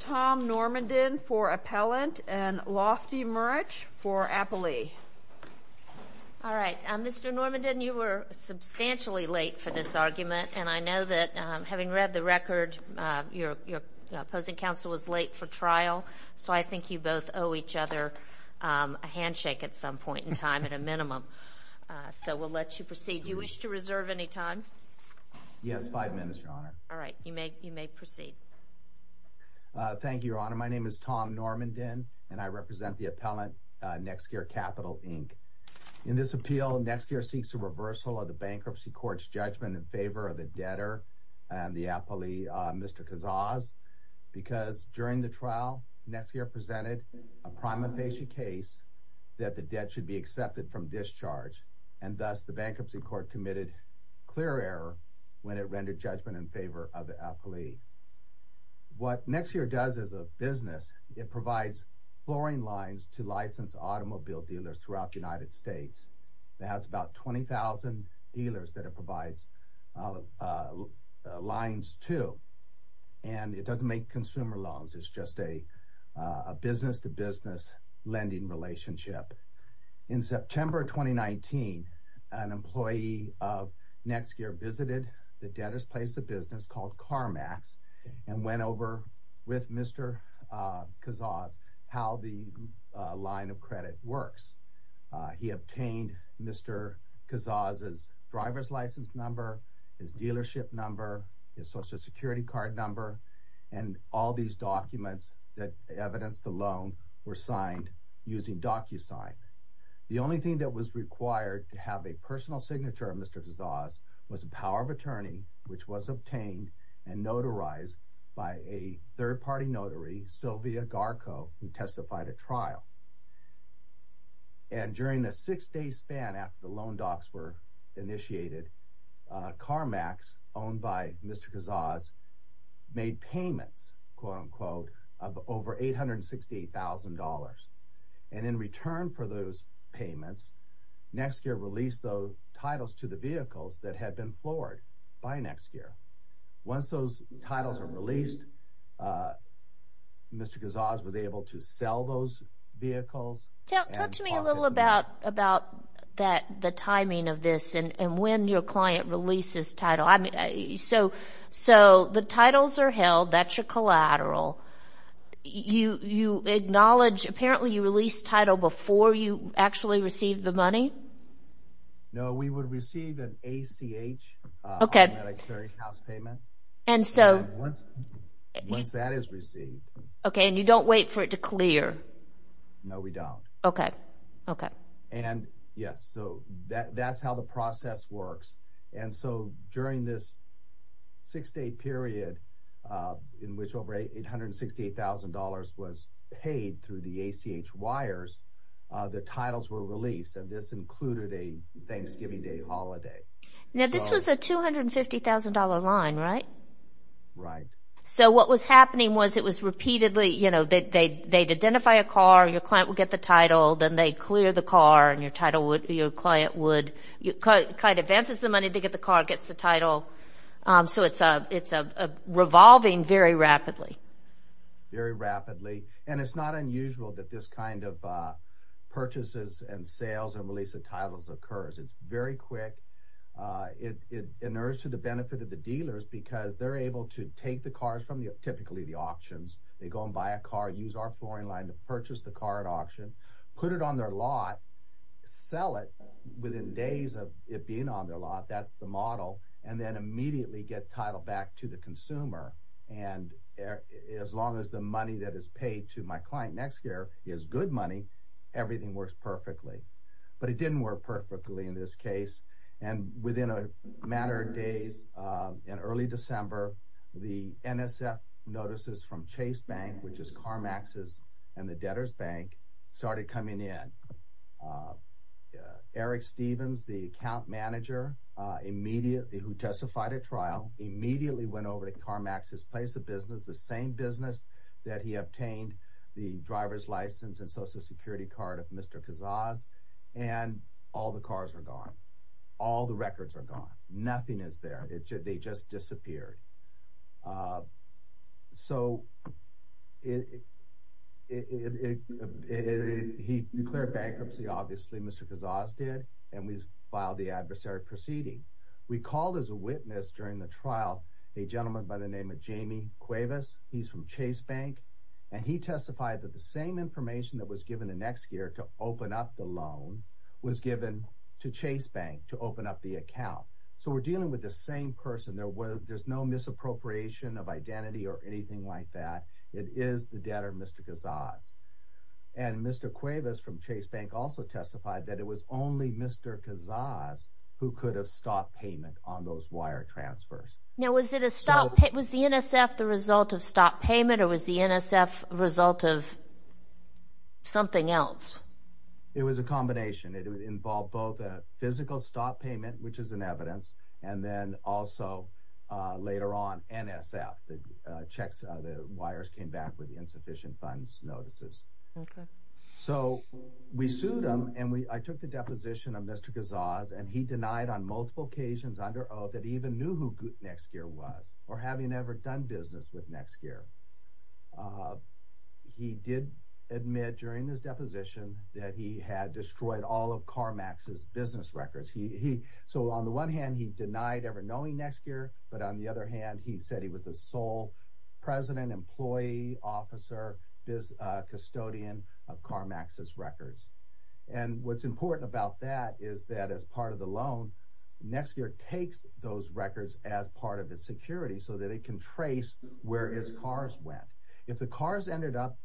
Tom Normandin for appellant and Lofty Murich for appellee. All right, Mr. Normandin, you were substantially late for this argument, and I know that having read the record, your opposing counsel was late for trial, so I think you both owe each other a handshake at some point in time, at a minimum. So we'll let you proceed. Do you wish to reserve any time? Yes, five minutes, Your Honor. All right, you may proceed. Thank you, Your Honor. My name is Tom Normandin, and I represent the appellant, Nexgear Capital, Inc. In this appeal, Nexgear seeks a reversal of the bankruptcy court's judgment in favor of the debtor, the appellee, Mr. Kazaz, because during the trial, Nexgear presented a prima facie case that the debt should be accepted from discharge, and thus the bankruptcy court committed clear error when it rendered judgment in favor of the appellee. What Nexgear does as a business, it provides flooring lines to licensed automobile dealers throughout the United States. It has about 20,000 dealers that it provides lines to, and it doesn't make consumer loans. It's just a business-to-business lending relationship. In September 2019, an employee of Nexgear visited the debtor's place of business called CarMax and went over with Mr. Kazaz how the line of credit works. He obtained Mr. Kazaz's driver's license number, his dealership number, his Social Security card number, and all these documents that evidenced the loan were signed using DocuSign. The only thing that was required to have a personal signature of Mr. Kazaz was a power of attorney, which was obtained and notarized by a third-party notary, Sylvia Garco, who testified at trial. And during the six-day span after the loan docs were initiated, CarMax, owned by Mr. Kazaz, made payments, quote-unquote, of over $868,000. And in return for those payments, Nexgear released those titles to the vehicles that had been floored by Nexgear. Once those titles were released, Mr. Kazaz was able to sell those vehicles. Talk to me a little about the timing of this and when your client releases title. So the titles are held. That's your collateral. You acknowledge, apparently you release title before you actually receive the money? No, we would receive an ACH automatic clearinghouse payment. And so... Once that is received. Okay, and you don't wait for it to clear. No, we don't. Okay, okay. And, yes, so that's how the process works. And so during this six-day period in which over $868,000 was paid through the ACH wires, the titles were released, and this included a Thanksgiving Day holiday. Now, this was a $250,000 line, right? Right. So what was happening was it was repeatedly, you know, they'd identify a car, your client would get the title, then they'd clear the car, and your client advances the money to get the car, gets the title. So it's revolving very rapidly. Very rapidly. And it's not unusual that this kind of purchases and sales and release of titles occurs. It's very quick. It inures to the benefit of the dealers because they're able to take the cars from typically the auctions. They go and buy a car, use our flooring line to purchase the car at auction, put it on their lot, sell it within days of it being on their lot, that's the model, and then immediately get title back to the consumer. And as long as the money that is paid to my client next year is good money, everything works perfectly. But it didn't work perfectly in this case. And within a matter of days, in early December, the NSF notices from Chase Bank, which is CarMax's and the debtor's bank, started coming in. Eric Stevens, the account manager who testified at trial, immediately went over to CarMax's place of business, the same business that he obtained the driver's license and Social Security card of Mr. Cazaz, and all the cars are gone. All the records are gone. Nothing is there. They just disappeared. So he declared bankruptcy, obviously, Mr. Cazaz did, and we filed the adversary proceeding. We called as a witness during the trial a gentleman by the name of Jamie Cuevas. He's from Chase Bank, and he testified that the same information that was given the next year to open up the loan was given to Chase Bank to open up the account. So we're dealing with the same person. There's no misappropriation of identity or anything like that. It is the debtor, Mr. Cazaz. And Mr. Cuevas from Chase Bank also testified that it was only Mr. Cazaz who could have stopped payment on those wire transfers. Now, was the NSF the result of stopped payment, or was the NSF a result of something else? It was a combination. It would involve both a physical stopped payment, which is in evidence, and then also later on NSF. The wires came back with insufficient funds notices. Okay. So we sued him, and I took the deposition of Mr. Cazaz, and he denied on multiple occasions under oath that he even knew who Nexgear was or having ever done business with Nexgear. He did admit during his deposition that he had destroyed all of CarMax's business records. So on the one hand, he denied ever knowing Nexgear, but on the other hand, he said he was the sole president, employee, officer, custodian of CarMax's records. And what's important about that is that as part of the loan, Nexgear takes those records as part of its security so that it can trace where his cars went. If the car has ended up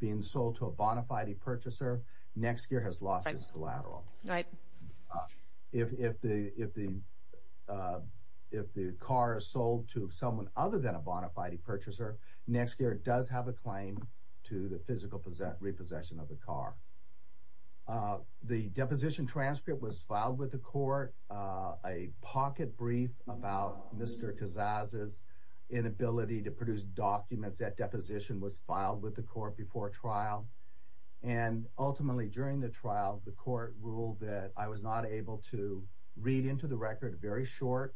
being sold to a bona fide purchaser, Nexgear has lost his collateral. Right. If the car is sold to someone other than a bona fide purchaser, Nexgear does have a claim to the physical repossession of the car. The deposition transcript was filed with the court. A pocket brief about Mr. Kazaz's inability to produce documents at deposition was filed with the court before trial. And ultimately, during the trial, the court ruled that I was not able to read into the record a very short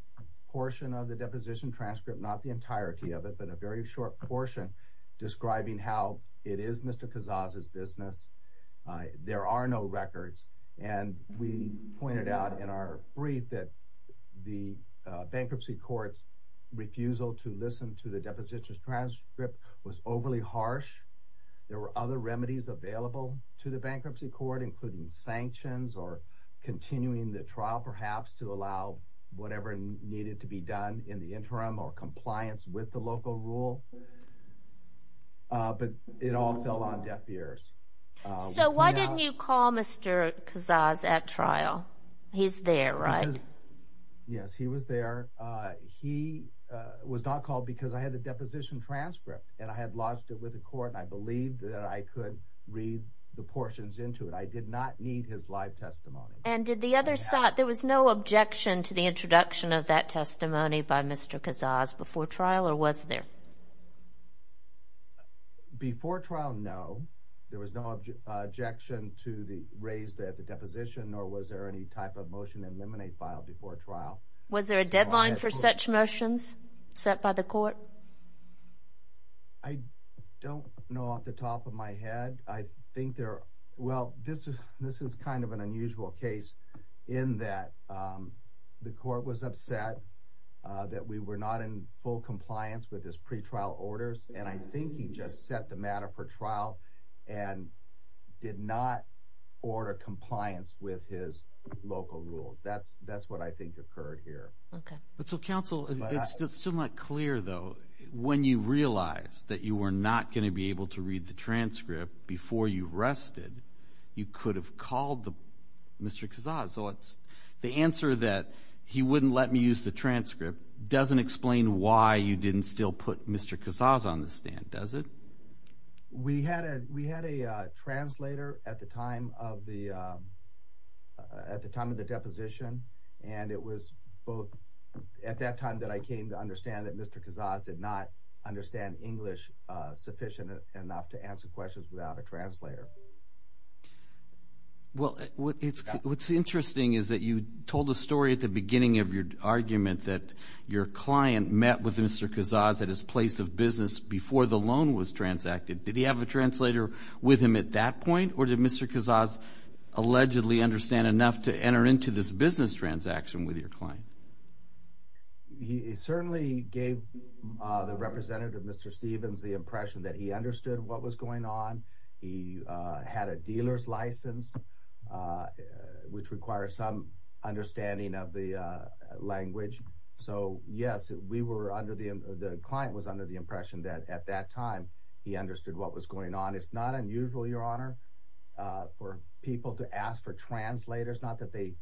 portion of the deposition transcript, not the entirety of it, but a very short portion describing how it is Mr. Kazaz's business. There are no records. And we pointed out in our brief that the bankruptcy court's refusal to listen to the deposition transcript was overly harsh. There were other remedies available to the bankruptcy court, including sanctions or continuing the trial perhaps to allow whatever needed to be done in the interim or compliance with the local rule. But it all fell on deaf ears. So why didn't you call Mr. Kazaz at trial? He's there, right? Yes, he was there. He was not called because I had the deposition transcript and I had lodged it with the court and I believed that I could read the portions into it. I did not need his live testimony. And did the other side, there was no objection to the introduction of that testimony by Mr. Kazaz before trial or was there? Before trial, no, there was no objection to the raised at the deposition, nor was there any type of motion to eliminate file before trial. Was there a deadline for such motions set by the court? I don't know off the top of my head. I think there, well, this is kind of an unusual case in that the court was upset that we were not in full compliance with his pretrial orders and I think he just set the matter for trial and did not order compliance with his local rules. That's what I think occurred here. Okay. But so, counsel, it's still not clear, though. When you realize that you were not going to be able to read the transcript before you rested, you could have called Mr. Kazaz. The answer that he wouldn't let me use the transcript doesn't explain why you didn't still put Mr. Kazaz on the stand, does it? We had a translator at the time of the deposition, and it was at that time that I came to understand that Mr. Kazaz did not understand English sufficient enough to answer questions without a translator. Well, what's interesting is that you told the story at the beginning of your argument that your client met with Mr. Kazaz at his place of business before the loan was transacted. Did he have a translator with him at that point, or did Mr. Kazaz allegedly understand enough to enter into this business transaction with your client? He certainly gave the representative, Mr. Stevens, the impression that he understood what was going on. He had a dealer's license, which requires some understanding of the language. So, yes, the client was under the impression that at that time he understood what was going on. It's not unusual, Your Honor, for people to ask for translators. Not that they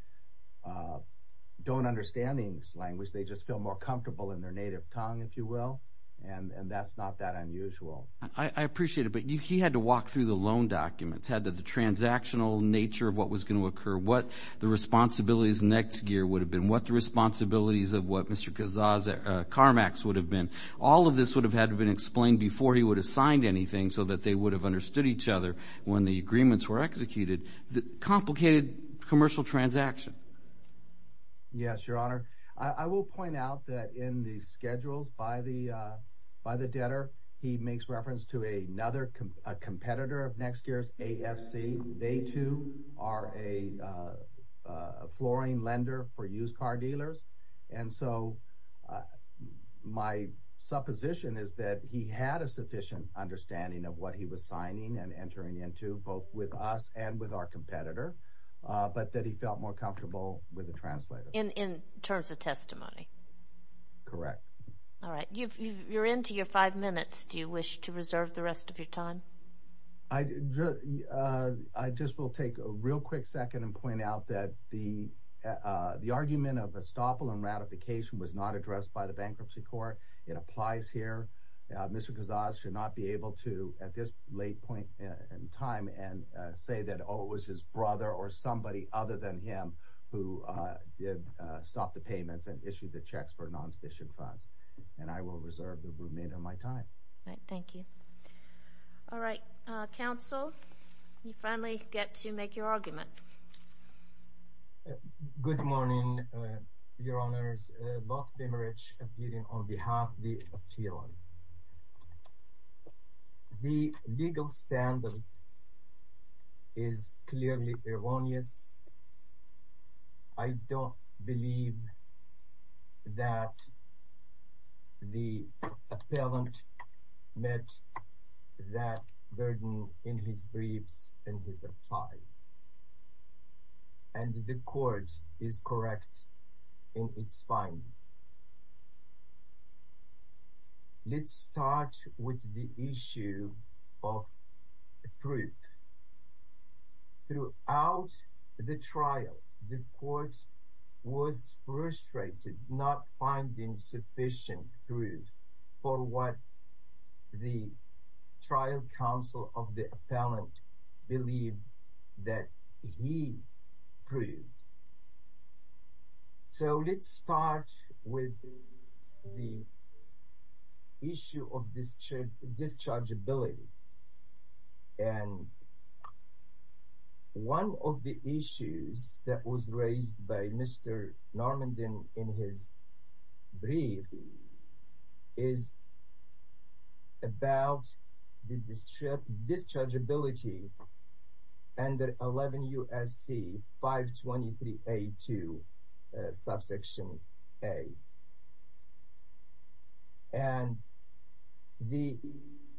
don't understand English language. They just feel more comfortable in their native tongue, if you will, and that's not that unusual. I appreciate it, but he had to walk through the loan documents, had the transactional nature of what was going to occur, what the responsibilities next year would have been, what the responsibilities of what Mr. Kazaz's CarMax would have been. All of this would have had to be explained before he would have signed anything so that they would have understood each other when the agreements were executed. Complicated commercial transaction. Yes, Your Honor. I will point out that in the schedules by the debtor, he makes reference to another competitor of NextGear's, AFC. They, too, are a flooring lender for used car dealers, and so my supposition is that he had a sufficient understanding of what he was signing and entering into both with us and with our competitor, but that he felt more comfortable with a translator. In terms of testimony? Correct. All right. You're into your five minutes. Do you wish to reserve the rest of your time? I just will take a real quick second and point out that the argument of estoppel and ratification was not addressed by the Bankruptcy Court. It applies here. Mr. Kazaz should not be able to, at this late point in time, and say that, oh, it was his brother or somebody other than him who did stop the payments and issued the checks for non-sufficient funds, and I will reserve the remainder of my time. All right. Thank you. All right. Counsel, you finally get to make your argument. Good morning, Your Honors. Bob Pimerich, appearing on behalf of the appeal. The legal standard is clearly erroneous. I don't believe that the appellant met that burden in his briefs and his replies, and the court is correct in its finding. Let's start with the issue of proof. Throughout the trial, the court was frustrated not finding sufficient proof for what the trial counsel of the appellant believed that he proved. So let's start with the issue of dischargeability. And one of the issues that was raised by Mr. Normand in his brief is about the dischargeability under 11 U.S.C. 523A2, subsection A. And the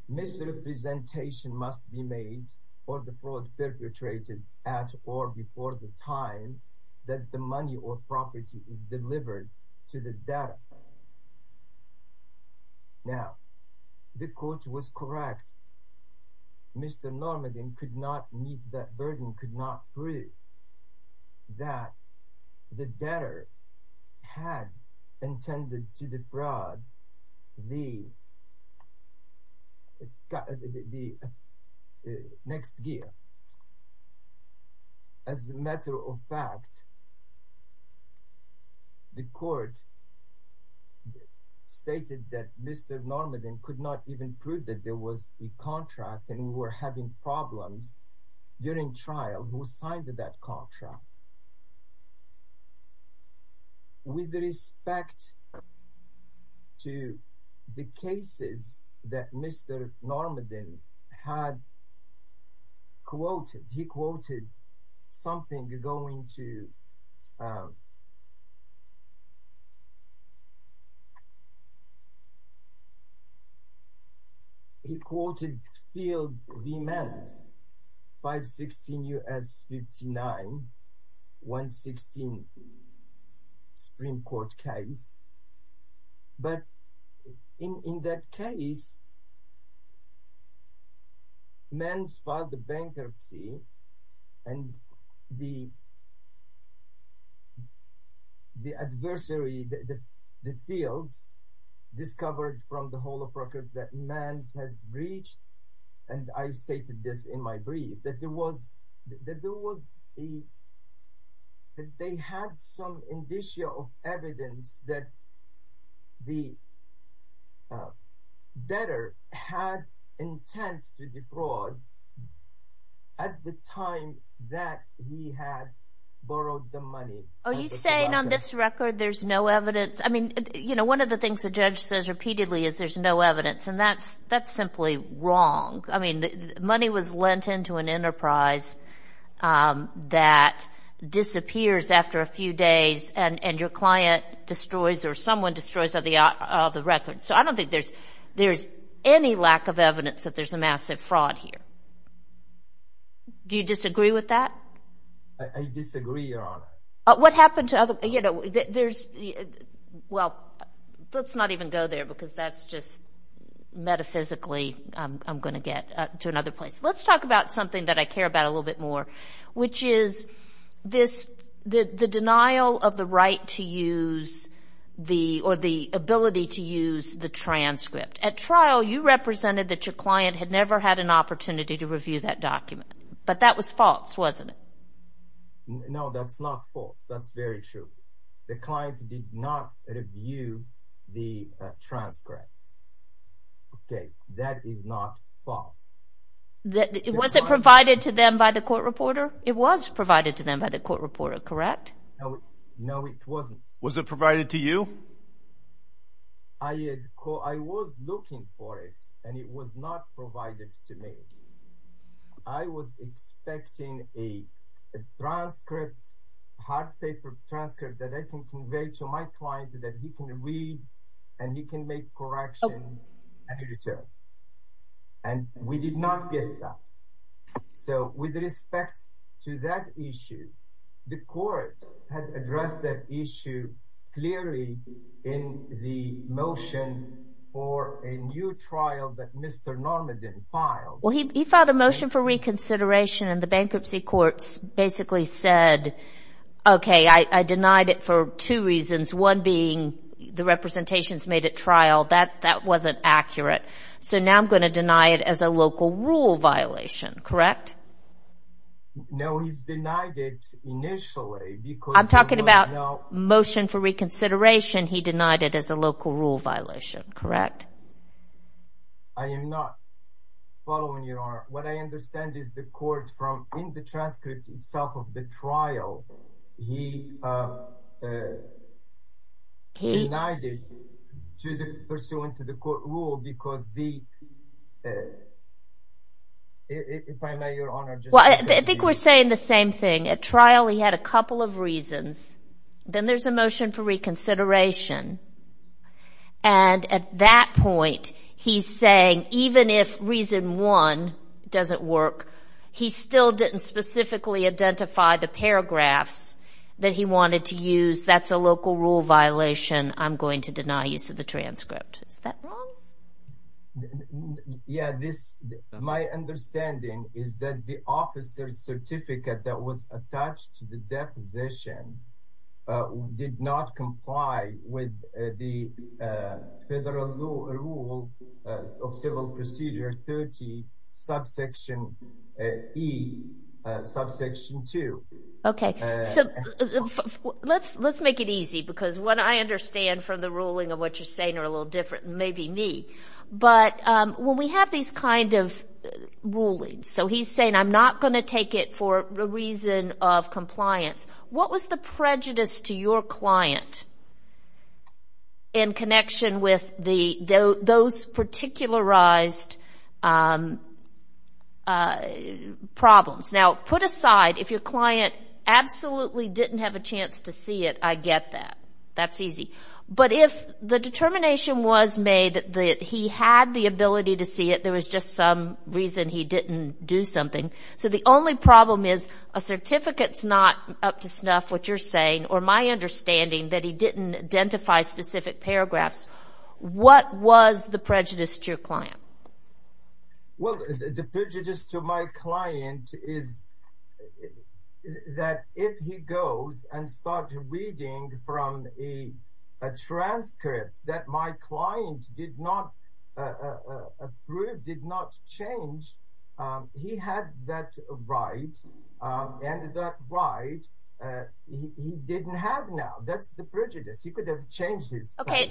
misrepresentation must be made for the fraud perpetrated at or before the time that the money or property is delivered to the debtor. Now, the court was correct. Mr. Normand could not meet that burden, could not prove that the debtor had intended to defraud the next gear. As a matter of fact, the court stated that Mr. Normand could not even prove that there was a contract and we were having problems during trial who signed that contract. With respect to the cases that Mr. Normand had quoted, he quoted something going to... He quoted Field v. Manns, 516 U.S. 59, 116 Supreme Court case. But in that case, Manns filed a bankruptcy and the adversary, the Fields, discovered from the whole of records that Manns has breached, and I stated this in my brief, that there was a... that the debtor had intent to defraud at the time that he had borrowed the money. Are you saying on this record there's no evidence? I mean, you know, one of the things the judge says repeatedly is there's no evidence, and that's simply wrong. I mean, money was lent into an enterprise that disappears after a few days and your client destroys or someone destroys the record. So I don't think there's any lack of evidence that there's a massive fraud here. Do you disagree with that? I disagree, Your Honor. What happened to other... You know, there's... Well, let's not even go there because that's just metaphysically I'm going to get to another place. Let's talk about something that I care about a little bit more, which is the denial of the right to use the... or the ability to use the transcript. At trial, you represented that your client had never had an opportunity to review that document, but that was false, wasn't it? No, that's not false. That's very true. The client did not review the transcript. Okay, that is not false. Was it provided to them by the court reporter? It was provided to them by the court reporter, correct? No, it wasn't. Was it provided to you? I was looking for it, and it was not provided to me. I was expecting a transcript, hard paper transcript that I can convey to my client that he can read and he can make corrections and return. And we did not get that. So, with respect to that issue, the court had addressed that issue clearly in the motion for a new trial that Mr. Normandin filed. Well, he filed a motion for reconsideration, and the bankruptcy courts basically said, okay, I denied it for two reasons, one being the representations made at trial. That wasn't accurate. So, now I'm going to deny it as a local rule violation, correct? No, he's denied it initially. I'm talking about motion for reconsideration. He denied it as a local rule violation, correct? I am not following your argument. What I understand is the court, in the transcript itself of the trial, he denied it pursuant to the court rule because the – if I may, Your Honor. I think we're saying the same thing. At trial, he had a couple of reasons. Then there's a motion for reconsideration. And at that point, he's saying even if reason one doesn't work, he still didn't specifically identify the paragraphs that he wanted to use. That's a local rule violation. I'm going to deny use of the transcript. Is that wrong? Yeah, this – my understanding is that the officer's certificate that was attached to the deposition did not comply with the federal rule of civil procedure 30, subsection E, subsection 2. Okay. So, let's make it easy because what I understand from the ruling of what you're saying are a little different than maybe me. But when we have these kind of rulings, so he's saying I'm not going to take it for a reason of compliance, what was the prejudice to your client in connection with those particularized problems? Now, put aside, if your client absolutely didn't have a chance to see it, I get that. That's easy. But if the determination was made that he had the ability to see it, there was just some reason he didn't do something. So, the only problem is a certificate's not up to snuff, what you're saying, or my understanding that he didn't identify specific paragraphs. What was the prejudice to your client? Well, the prejudice to my client is that if he goes and starts reading from a transcript that my client did not approve, did not change, he had that right, and that right he didn't have now. That's the prejudice. He could have changed this. Okay.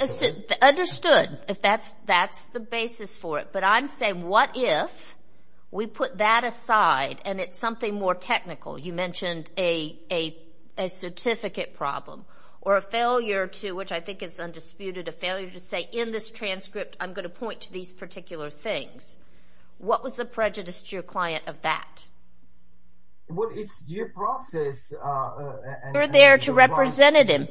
Understood if that's the basis for it. But I'm saying what if we put that aside and it's something more technical. You mentioned a certificate problem or a failure to, which I think is undisputed, a failure to say in this transcript I'm going to point to these particular things. What was the prejudice to your client of that? Well, it's due process. You're there to represent him.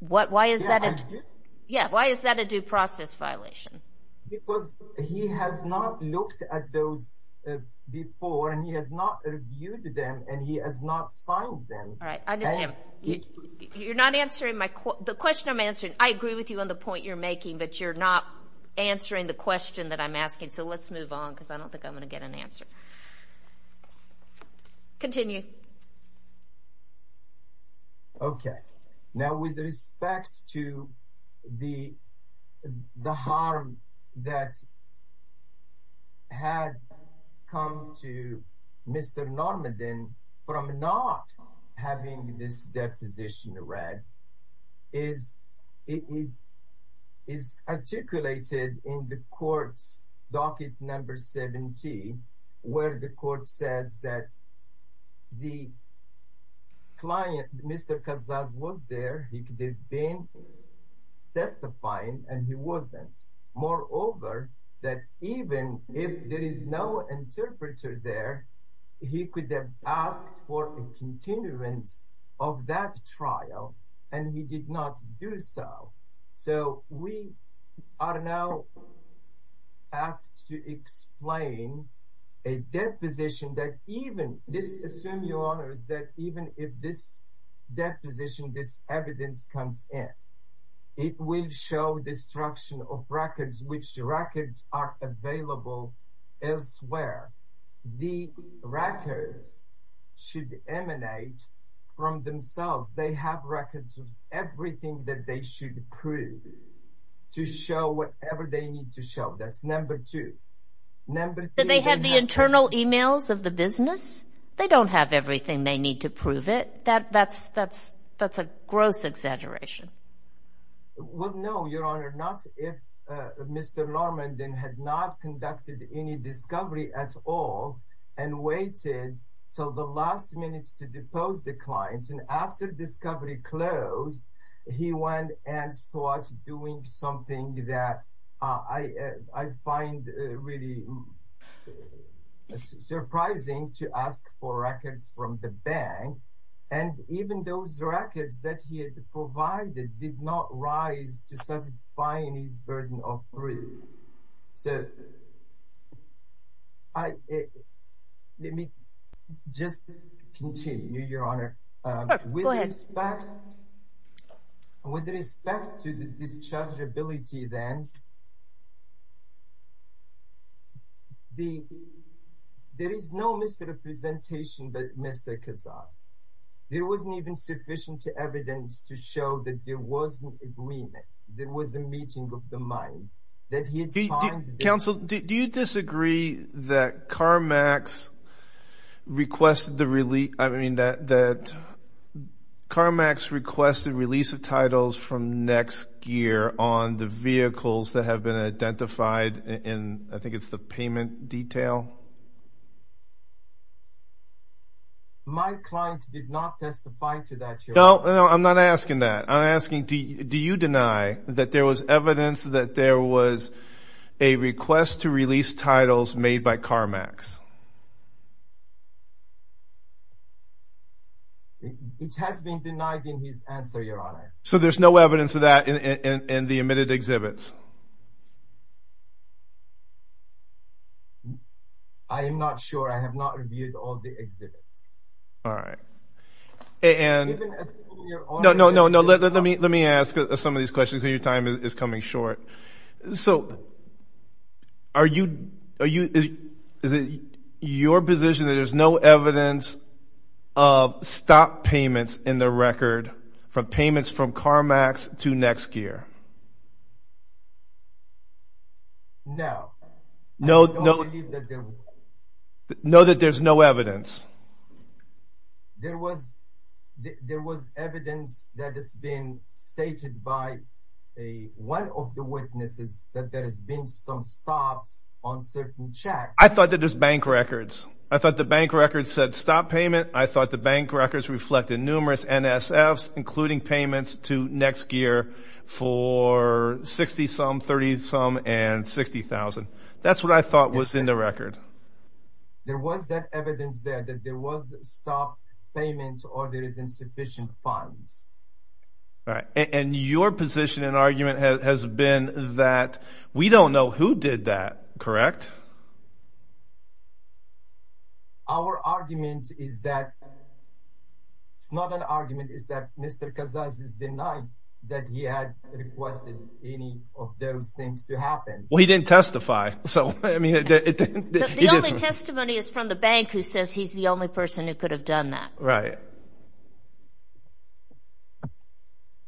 Why is that a due process violation? Because he has not looked at those before, and he has not reviewed them, and he has not signed them. All right. You're not answering the question I'm answering. I agree with you on the point you're making, but you're not answering the question that I'm asking. So, let's move on because I don't think I'm going to get an answer. Continue. Okay. Now, with respect to the harm that had come to Mr. Normandin from not having this deposition read, it is articulated in the court's docket number 70, where the court says that the client, Mr. Kazaz, was there. He could have been testifying, and he wasn't. Moreover, that even if there is no interpreter there, he could have asked for a continuance of that trial, and he did not do so. So, we are now asked to explain a deposition that even this, assume your honors, that even if this deposition, this evidence comes in, it will show destruction of records, which records are available elsewhere. The records should emanate from themselves. They have records of everything that they should prove to show whatever they need to show. That's number two. They have the internal emails of the business? They don't have everything they need to prove it? That's a gross exaggeration. Well, no, your honor. Not if Mr. Normandin had not conducted any discovery at all and waited till the last minute to depose the client. After discovery closed, he went and started doing something that I find really surprising to ask for records from the bank, and even those records that he had provided did not rise to satisfying his burden of proof. So, let me just continue, your honor. Go ahead. With respect to the dischargeability then, there is no misrepresentation by Mr. Cazares. There wasn't even sufficient evidence to show that there was an agreement, that there was a meeting of the mind. Counsel, do you disagree that CarMax requested the release of titles from NextGear on the vehicles that have been identified in, I think it's the payment detail? My client did not testify to that, your honor. No, I'm not asking that. I'm asking do you deny that there was evidence that there was a request to release titles made by CarMax? It has been denied in his answer, your honor. So there's no evidence of that in the omitted exhibits? I am not sure. I have not reviewed all the exhibits. All right. No, no, no, let me ask some of these questions because your time is coming short. So is it your position that there's no evidence of stop payments in the record for payments from CarMax to NextGear? No. No that there's no evidence? There was evidence that has been stated by one of the witnesses that there has been some stops on certain checks. I thought that it was bank records. I thought the bank records said stop payment. I thought the bank records reflected numerous NSFs, including payments to NextGear for $60,000, $30,000, and $60,000. That's what I thought was in the record. There was that evidence there that there was stop payment or there is insufficient funds. All right. And your position and argument has been that we don't know who did that, correct? Our argument is that it's not an argument. It's that Mr. Kazaz is denying that he had requested any of those things to happen. Well, he didn't testify. The only testimony is from the bank who says he's the only person who could have done that. Right.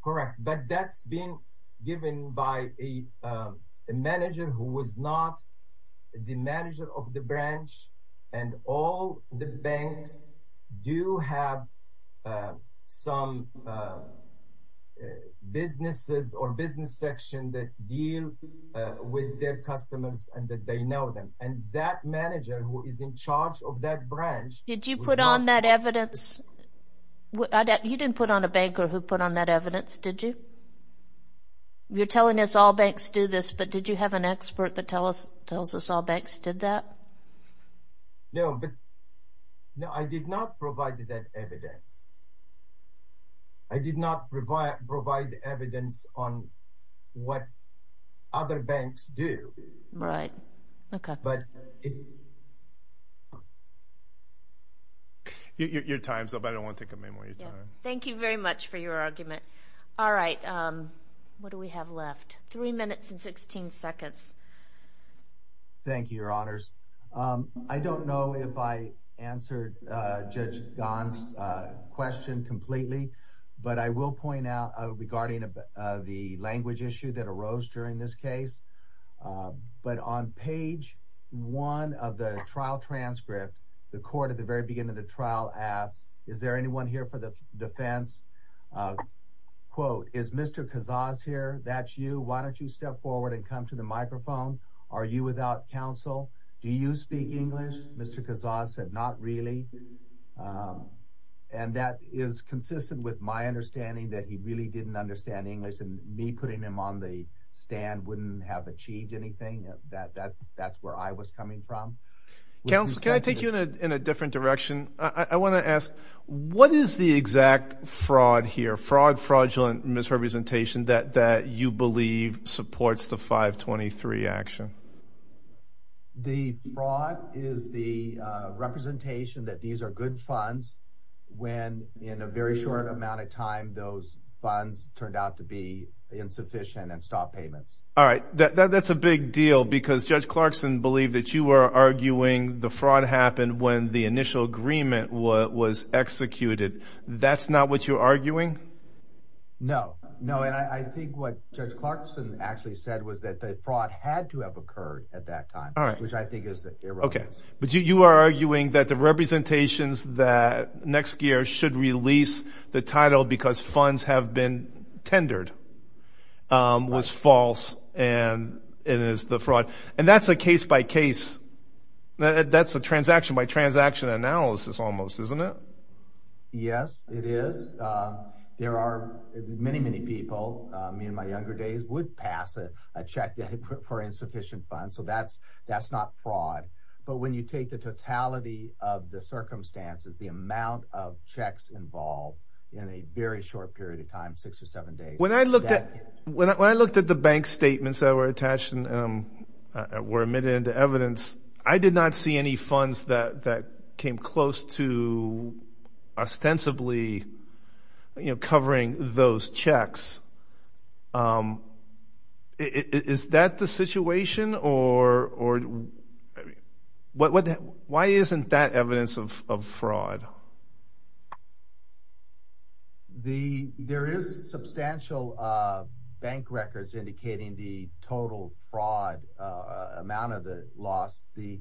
Correct. But that's been given by a manager who was not the manager of the branch, and all the banks do have some businesses or business section that deal with their customers and that they know them. And that manager who is in charge of that branch was not the bank. Did you put on that evidence? You didn't put on a banker who put on that evidence, did you? You're telling us all banks do this, but did you have an expert that tells us all banks did that? No, but I did not provide that evidence. I did not provide evidence on what other banks do. Right. Okay. Your time is up. I don't want to take up any more of your time. Thank you very much for your argument. All right. What do we have left? Three minutes and 16 seconds. Thank you, Your Honors. I don't know if I answered Judge Gan's question completely, but I will point out regarding the language issue that arose during this case. But on page one of the trial transcript, the court at the very beginning of the trial asked, is there anyone here for the defense? Quote, is Mr. Kazaz here? Why don't you step forward and come to the microphone? Are you without counsel? Do you speak English? Mr. Kazaz said, not really. And that is consistent with my understanding that he really didn't understand English, and me putting him on the stand wouldn't have achieved anything. That's where I was coming from. Counsel, can I take you in a different direction? I want to ask, what is the exact fraud here, fraud, fraudulent misrepresentation, that you believe supports the 523 action? The fraud is the representation that these are good funds, when in a very short amount of time, those funds turned out to be insufficient and stop payments. All right. That's a big deal because Judge Clarkson believed that you were arguing the fraud happened when the initial agreement was executed. That's not what you're arguing? No. No, and I think what Judge Clarkson actually said was that the fraud had to have occurred at that time, which I think is irrelevant. Okay. But you are arguing that the representations that next year should release the title because funds have been tendered was false, and it is the fraud. And that's a case-by-case, that's a transaction-by-transaction analysis almost, isn't it? Yes, it is. There are many, many people, me in my younger days, would pass a check for insufficient funds. So that's not fraud. But when you take the totality of the circumstances, the amount of checks involved in a very short period of time, six or seven days. When I looked at the bank statements that were attached and were admitted into evidence, I did not see any funds that came close to ostensibly covering those checks. Is that the situation? Why isn't that evidence of fraud? There is substantial bank records indicating the total fraud amount of the loss is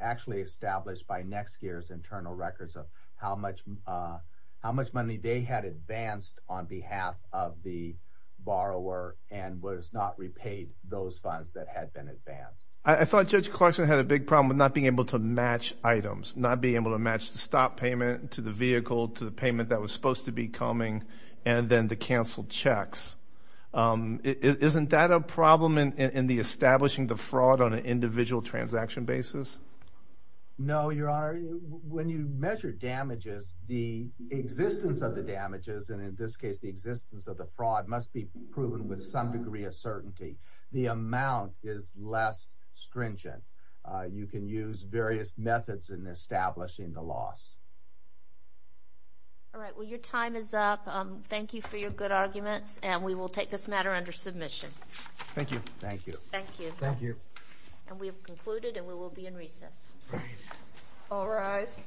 actually established by next year's internal records of how much money they had advanced on behalf of the borrower and was not repaid those funds that had been advanced. I thought Judge Clarkson had a big problem with not being able to match items, not being able to match the stop payment to the vehicle, to the payment that was supposed to be coming, and then to cancel checks. Isn't that a problem in establishing the fraud on an individual transaction basis? No, Your Honor. When you measure damages, the existence of the damages, and in this case the existence of the fraud, must be proven with some degree of certainty. The amount is less stringent. You can use various methods in establishing the loss. All right. Well, your time is up. Thank you for your good arguments, and we will take this matter under submission. Thank you. Thank you. Thank you. Thank you. And we have concluded, and we will be in recess. All rise.